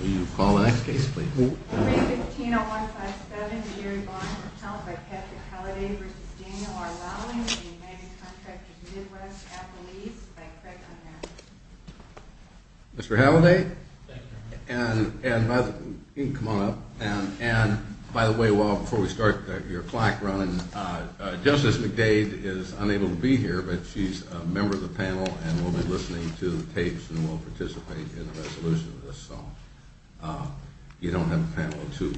Will you call the next case, please? 3-15-0157, the Yearly Bond Account by Patrick Halladay v. Daniel R. Lolling & United Contractors Midwest, Appalachia, by Craig Underwood. Mr. Halladay? Thank you. You can come on up. And by the way, before we start your clock running, Justice McDade is unable to be here, but she's a member of the panel and will be listening to the tapes and will participate in the resolution of this, so you don't have a panel of two.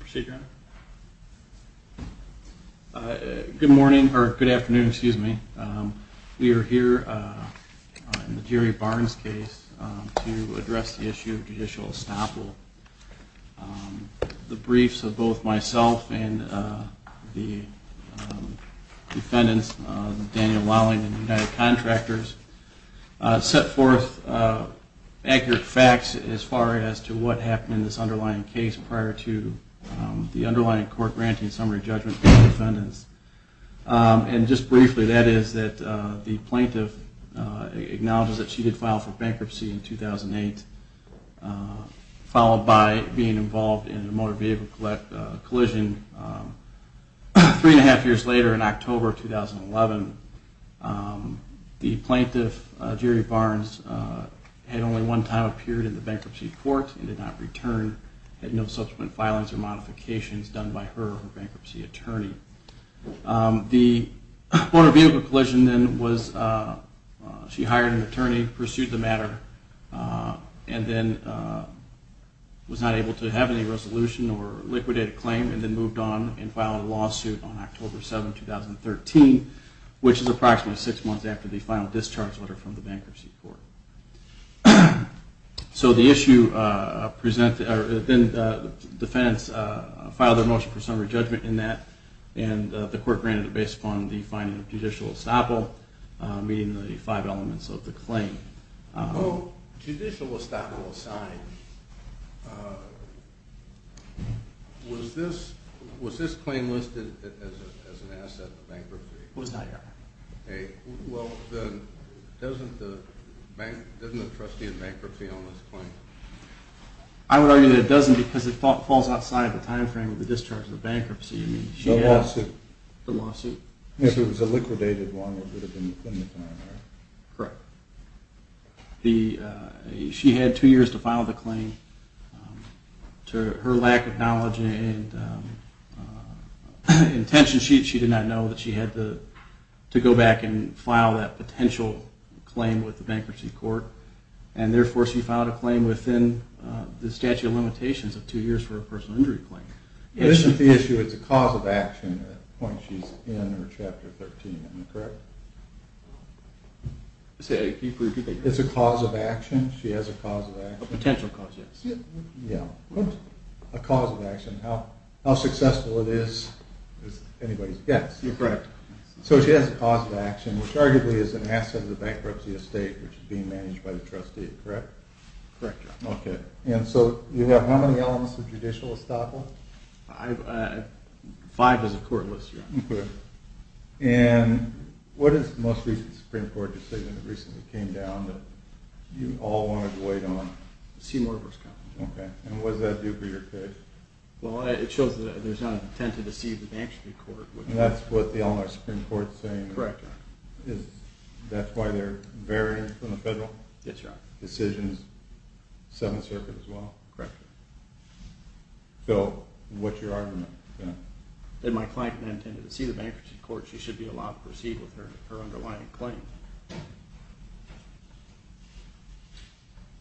Procedure? Good morning, or good afternoon, excuse me. We are here in the Jerry Barnes case to address the issue of judicial estoppel. The briefs of both myself and the defendants, Daniel Lolling & United Contractors, set forth accurate facts as far as to what happened in this underlying case prior to the underlying court granting summary judgment for the defendants. And just briefly, that is that the plaintiff acknowledges that she did file for bankruptcy in 2008, followed by being involved in a motor vehicle collision. Three and a half years later, in October 2011, the plaintiff, Jerry Barnes, had only one time appeared in the bankruptcy court and did not return, had no subsequent filings or modifications done by her or her bankruptcy attorney. The motor vehicle collision then was she hired an attorney, pursued the matter, and then was not able to have any resolution or liquidate a claim and then moved on and filed a lawsuit on October 7, 2013, which is approximately six months after the final discharge letter from the bankruptcy court. So the defendants filed their motion for summary judgment in that, and the court granted it based upon the finding of judicial estoppel, meeting the five elements of the claim. Well, judicial estoppel aside, was this claim listed as an asset in the bankruptcy? It was not yet. Okay. Well, then doesn't the trustee have bankruptcy on this claim? I would argue that it doesn't because it falls outside the time frame of the discharge of the bankruptcy. The lawsuit. The lawsuit. If it was a liquidated one, it would have been within the time frame. Correct. She had two years to file the claim. To her lack of knowledge and intention, she did not know that she had to go back and file that potential claim with the bankruptcy court. And therefore, she filed a claim within the statute of limitations of two years for a personal injury claim. It isn't the issue, it's a cause of action at the point she's in or Chapter 13, correct? It's a cause of action. She has a cause of action. A potential cause, yes. Yeah. A cause of action. How successful it is is anybody's guess. You're correct. So she has a cause of action, which arguably is an asset of the bankruptcy estate, which is being managed by the trustee, correct? Correct, yeah. Okay. And so you have how many elements of judicial estoppel? I have five as of court this year. Okay. And what is the most recent Supreme Court decision that recently came down that you all wanted to wait on? Seymour v. Compton. Okay. And what does that do for your case? Well, it shows that there's not an intent to deceive the bankruptcy court. And that's what the Eleanor Supreme Court is saying? That's why they're varying from the federal decisions? Yes, Your Honor. And this is Seventh Circuit as well? Correct. Phil, what's your argument? That my client didn't intend to deceive the bankruptcy court. She should be allowed to proceed with her underlying claim.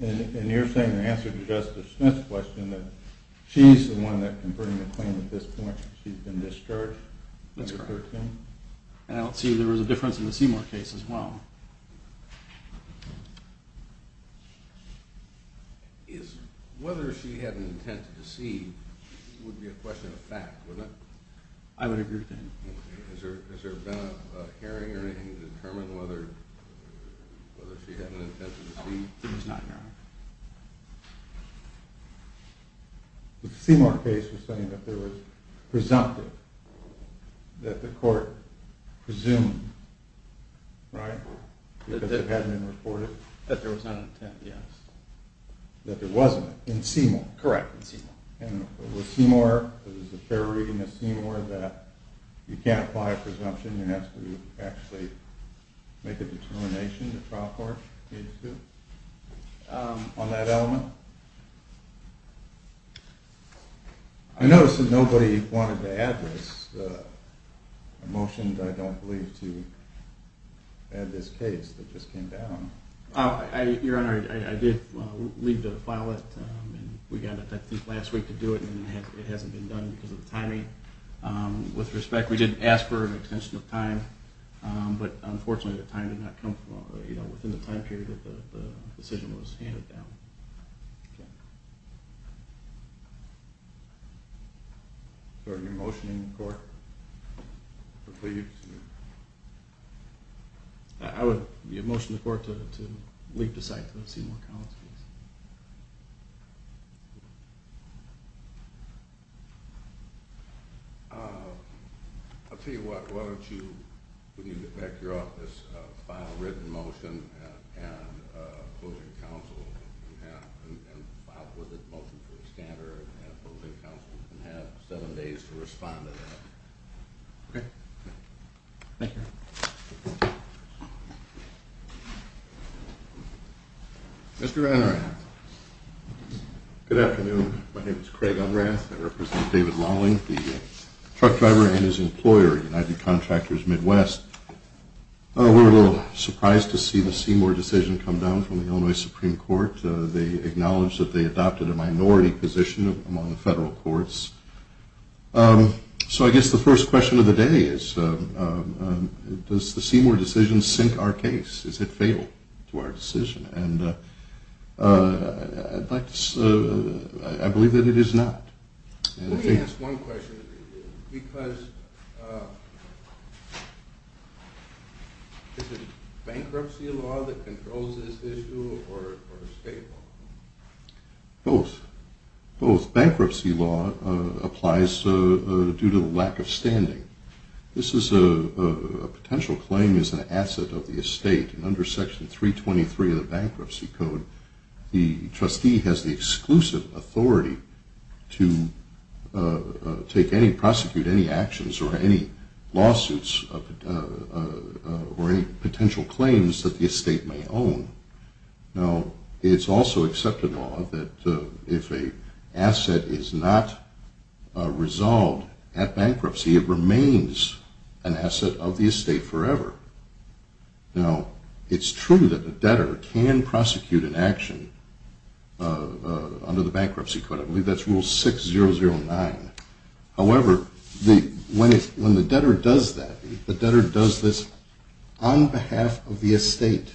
And you're saying in answer to Justice Smith's question that she's the one that converted the claim at this point? She's been discharged? That's correct. Chapter 13? I don't see there was a difference in the Seymour case as well. Whether she had an intent to deceive would be a question of fact, wouldn't it? I would agree with that. Has there been a hearing or anything to determine whether she had an intent to deceive? No, there was not, Your Honor. The Seymour case was saying that there was presumptive, that the court presumed, right? That it hadn't been reported? That there was not an intent, yes. That there wasn't, in Seymour? Correct, in Seymour. And was Seymour, was it fair reading of Seymour that you can't apply a presumption, you have to actually make a determination, the trial court needs to, on that element? I notice that nobody wanted to add this. I motioned, I don't believe, to add this case that just came down. Your Honor, I did leave to file it, and we got it I think last week to do it, and it hasn't been done because of the timing. With respect, we did ask for an extension of time, but unfortunately the time did not come within the time period that the decision was handed down. Okay. Is there any motion in the court? I would motion the court to leave the site for the Seymour case. I'll tell you what, why don't you, when you get back to your office, file a written motion and a closing counsel, and file a motion for a scanner and a closing counsel, and have seven days to respond to that. Okay. Mr. Unrath. Good afternoon. My name is Craig Unrath. I represent David Lawling, the truck driver and his employer, United Contractors Midwest. We were a little surprised to see the Seymour decision come down from the Illinois Supreme Court. They acknowledged that they adopted a minority position among the federal courts. So I guess the first question of the day is, does the Seymour decision sink our case? Is it fatal to our decision? And I believe that it is not. Let me ask one question, because is it bankruptcy law that controls this issue or state law? Both. Both. Bankruptcy law applies due to the lack of standing. This is a potential claim as an asset of the estate. Under Section 323 of the Bankruptcy Code, the trustee has the exclusive authority to take any, prosecute any actions or any lawsuits or any potential claims that the estate may own. Now, it's also accepted law that if an asset is not resolved at bankruptcy, it remains an asset of the estate forever. Now, it's true that the debtor can prosecute an action under the Bankruptcy Code. I believe that's Rule 6009. However, when the debtor does that, the debtor does this on behalf of the estate,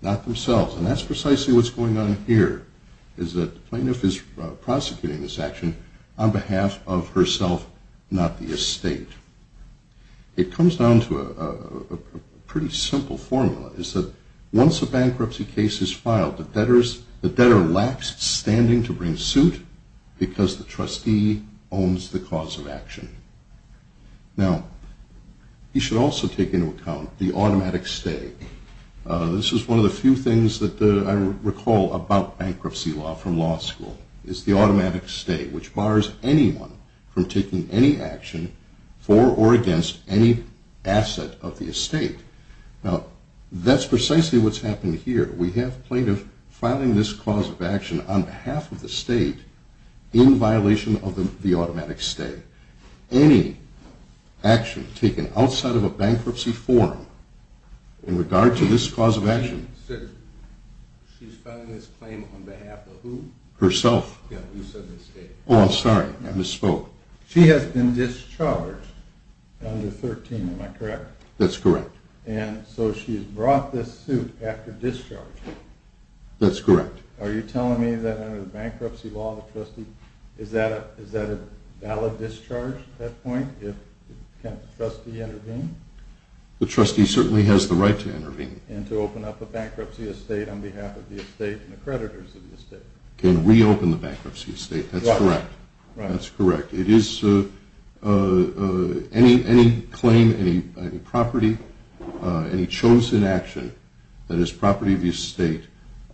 not themselves. And that's precisely what's going on here, is that the plaintiff is prosecuting this action on behalf of herself, not the estate. It comes down to a pretty simple formula, is that once a bankruptcy case is filed, the debtor lacks standing to bring suit because the trustee owns the cause of action. Now, you should also take into account the automatic stay. This is one of the few things that I recall about bankruptcy law from law school, is the automatic stay, which bars anyone from taking any action for or against any asset of the estate. Now, that's precisely what's happening here. We have plaintiffs filing this cause of action on behalf of the estate in violation of the automatic stay. Any action taken outside of a bankruptcy forum in regard to this cause of action… She's filing this claim on behalf of who? Herself. Yeah, you said the estate. Oh, I'm sorry, I misspoke. She has been discharged under 13, am I correct? That's correct. And so she's brought this suit after discharge. That's correct. Are you telling me that under the bankruptcy law, the trustee, is that a valid discharge at that point if the trustee intervened? The trustee certainly has the right to intervene. And to open up a bankruptcy estate on behalf of the estate and the creditors of the estate. Can reopen the bankruptcy estate, that's correct. Right. That's correct. Any claim, any property, any chosen action that is property of the estate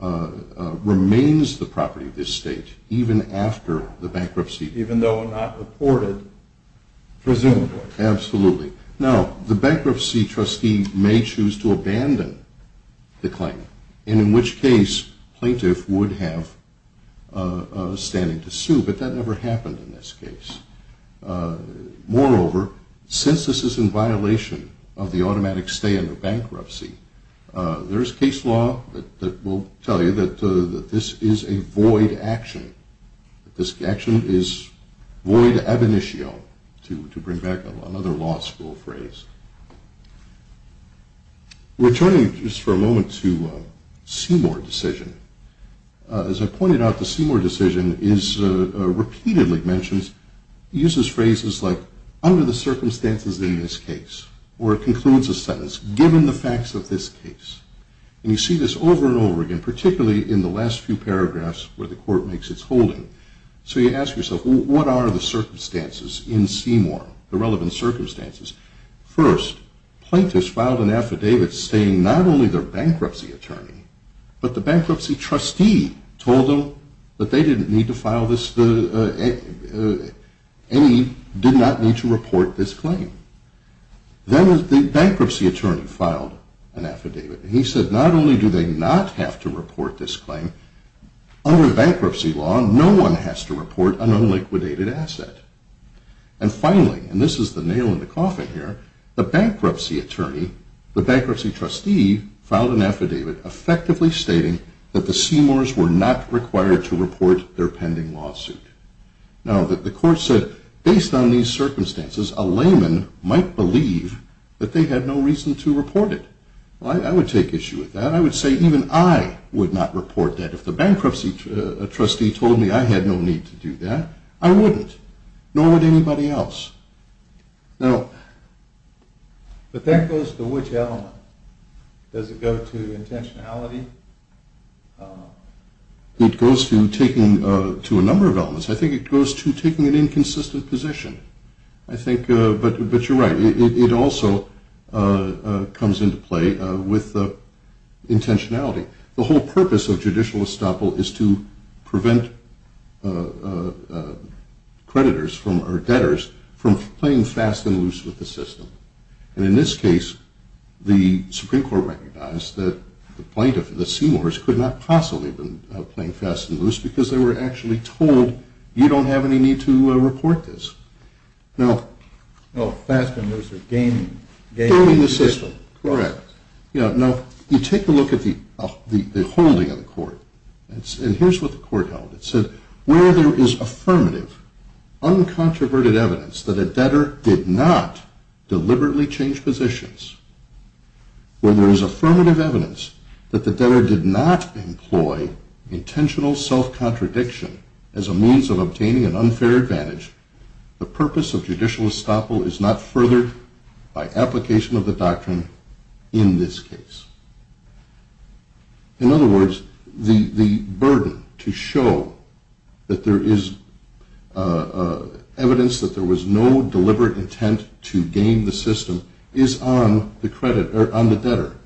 remains the property of the estate even after the bankruptcy. Even though not reported, presumably. Absolutely. Now, the bankruptcy trustee may choose to abandon the claim. And in which case, plaintiff would have standing to sue. But that never happened in this case. Moreover, since this is in violation of the automatic stay under bankruptcy, there is case law that will tell you that this is a void action. This action is void ab initio, to bring back another law school phrase. Returning just for a moment to Seymour decision. As I pointed out, the Seymour decision is repeatedly mentioned. It uses phrases like, under the circumstances in this case. Or it concludes a sentence, given the facts of this case. And you see this over and over again, particularly in the last few paragraphs where the court makes its holding. So you ask yourself, what are the circumstances in Seymour, the relevant circumstances? First, plaintiffs filed an affidavit saying not only their bankruptcy attorney, but the bankruptcy trustee told them that they didn't need to file this, any, did not need to report this claim. Then the bankruptcy attorney filed an affidavit. And he said, not only do they not have to report this claim, under bankruptcy law, no one has to report an unliquidated asset. And finally, and this is the nail in the coffin here, the bankruptcy attorney, the bankruptcy trustee, filed an affidavit effectively stating that the Seymours were not required to report their pending lawsuit. Now, the court said, based on these circumstances, a layman might believe that they had no reason to report it. Well, I would take issue with that. I would say even I would not report that. If the bankruptcy trustee told me I had no need to do that, I wouldn't, nor would anybody else. Now, but that goes to which element? Does it go to intentionality? It goes to a number of elements. I think it goes to taking an inconsistent position. I think, but you're right, it also comes into play with intentionality. The whole purpose of judicial estoppel is to prevent creditors from, or debtors, from playing fast and loose with the system. And in this case, the Supreme Court recognized that the plaintiff, the Seymours, could not possibly have been playing fast and loose because they were actually told, you don't have any need to report this. Now, fast and loose, or gaming the system. Gaming the system, correct. Now, you take a look at the holding of the court. And here's what the court held. It said, where there is affirmative, uncontroverted evidence that a debtor did not deliberately change positions, where there is affirmative evidence that the debtor did not employ intentional self-contradiction as a means of obtaining an unfair advantage, the purpose of judicial estoppel is not furthered by application of the doctrine in this case. In other words, the burden to show that there is evidence that there was no deliberate intent to game the system is on the credit, or on the debtor,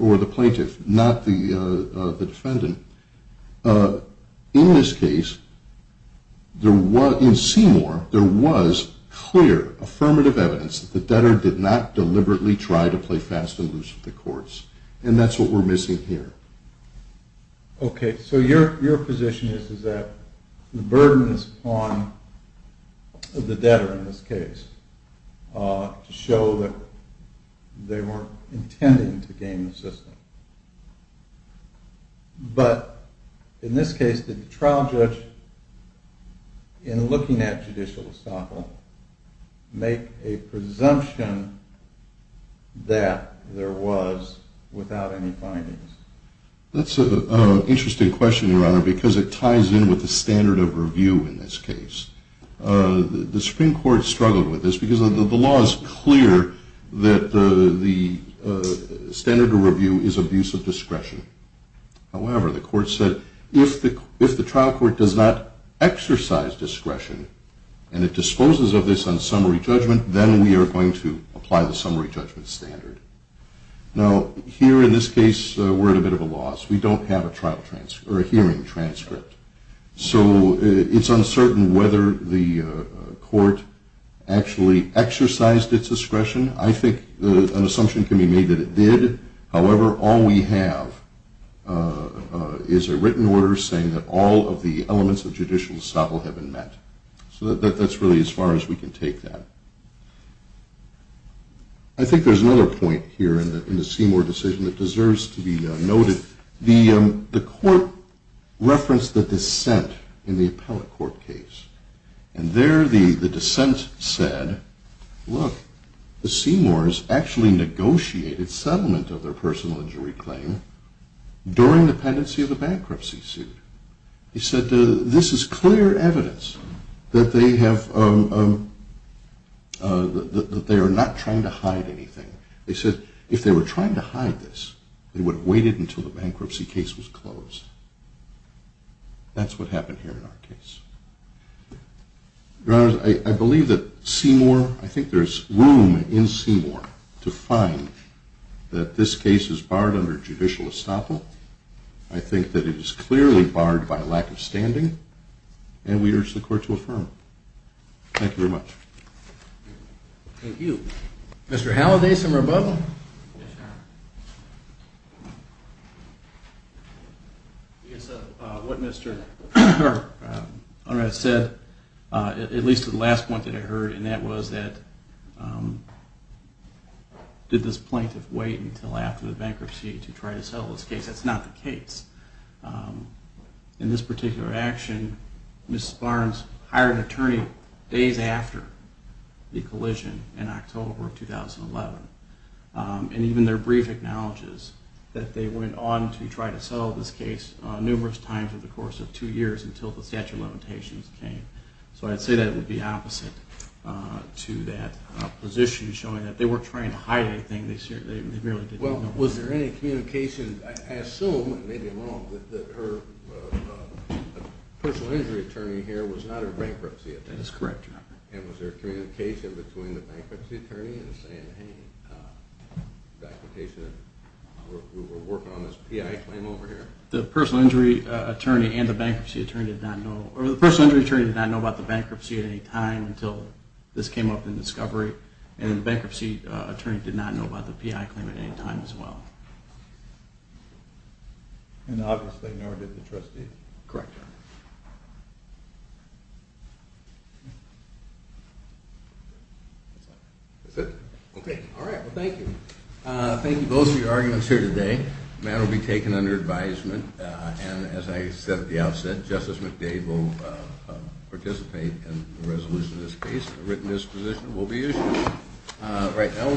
or the plaintiff, not the defendant. In this case, in Seymour, there was clear, affirmative evidence that the debtor did not deliberately try to play fast and loose with the courts. And that's what we're missing here. Okay, so your position is that the burden is on the debtor in this case to show that they weren't intending to game the system. But in this case, did the trial judge, in looking at judicial estoppel, make a presumption that there was without any findings? That's an interesting question, Your Honor, because it ties in with the standard of review in this case. The Supreme Court struggled with this because the law is clear that the standard of review is abuse of discretion. However, the court said, if the trial court does not exercise discretion and it disposes of this on summary judgment, then we are going to apply the summary judgment standard. Now, here in this case, we're at a bit of a loss. We don't have a hearing transcript. So it's uncertain whether the court actually exercised its discretion. I think an assumption can be made that it did. However, all we have is a written order saying that all of the elements of judicial estoppel have been met. So that's really as far as we can take that. I think there's another point here in the Seymour decision that deserves to be noted. The court referenced the dissent in the appellate court case. And there the dissent said, look, the Seymours actually negotiated settlement of their personal injury claim during the pendency of the bankruptcy suit. They said this is clear evidence that they are not trying to hide anything. They said if they were trying to hide this, they would have waited until the bankruptcy case was closed. That's what happened here in our case. Your Honor, I believe that Seymour, I think there's room in Seymour to find that this case is barred under judicial estoppel. I think that it is clearly barred by lack of standing. And we urge the court to affirm. Thank you very much. Thank you. Mr. Halliday, some rebuttal? Yes, Your Honor. What Mr. Unruh said, at least to the last point that I heard, and that was that did this plaintiff wait until after the bankruptcy to try to settle this case? That's not the case. In this particular action, Mrs. Barnes hired an attorney days after the collision in October of 2011. And even their brief acknowledges that they went on to try to settle this case numerous times over the course of two years until the statute of limitations came. So I'd say that it would be opposite to that position showing that they weren't trying to hide anything. Well, was there any communication, I assume it may be wrong, that her personal injury attorney here was not her bankruptcy attorney? That is correct, Your Honor. And was there communication between the bankruptcy attorney and saying, hey, documentation, we're working on this PI claim over here? The personal injury attorney and the bankruptcy attorney did not know, or the personal injury attorney did not know about the bankruptcy at any time until this came up in discovery. And the bankruptcy attorney did not know about the PI claim at any time as well. And obviously, nor did the trustee. Correct, Your Honor. That's it? Okay. All right, well, thank you. Thank you both for your arguments here today. The matter will be taken under advisement. And as I said at the outset, Justice McDade will participate in the resolution of this case. A written disposition will be issued right now.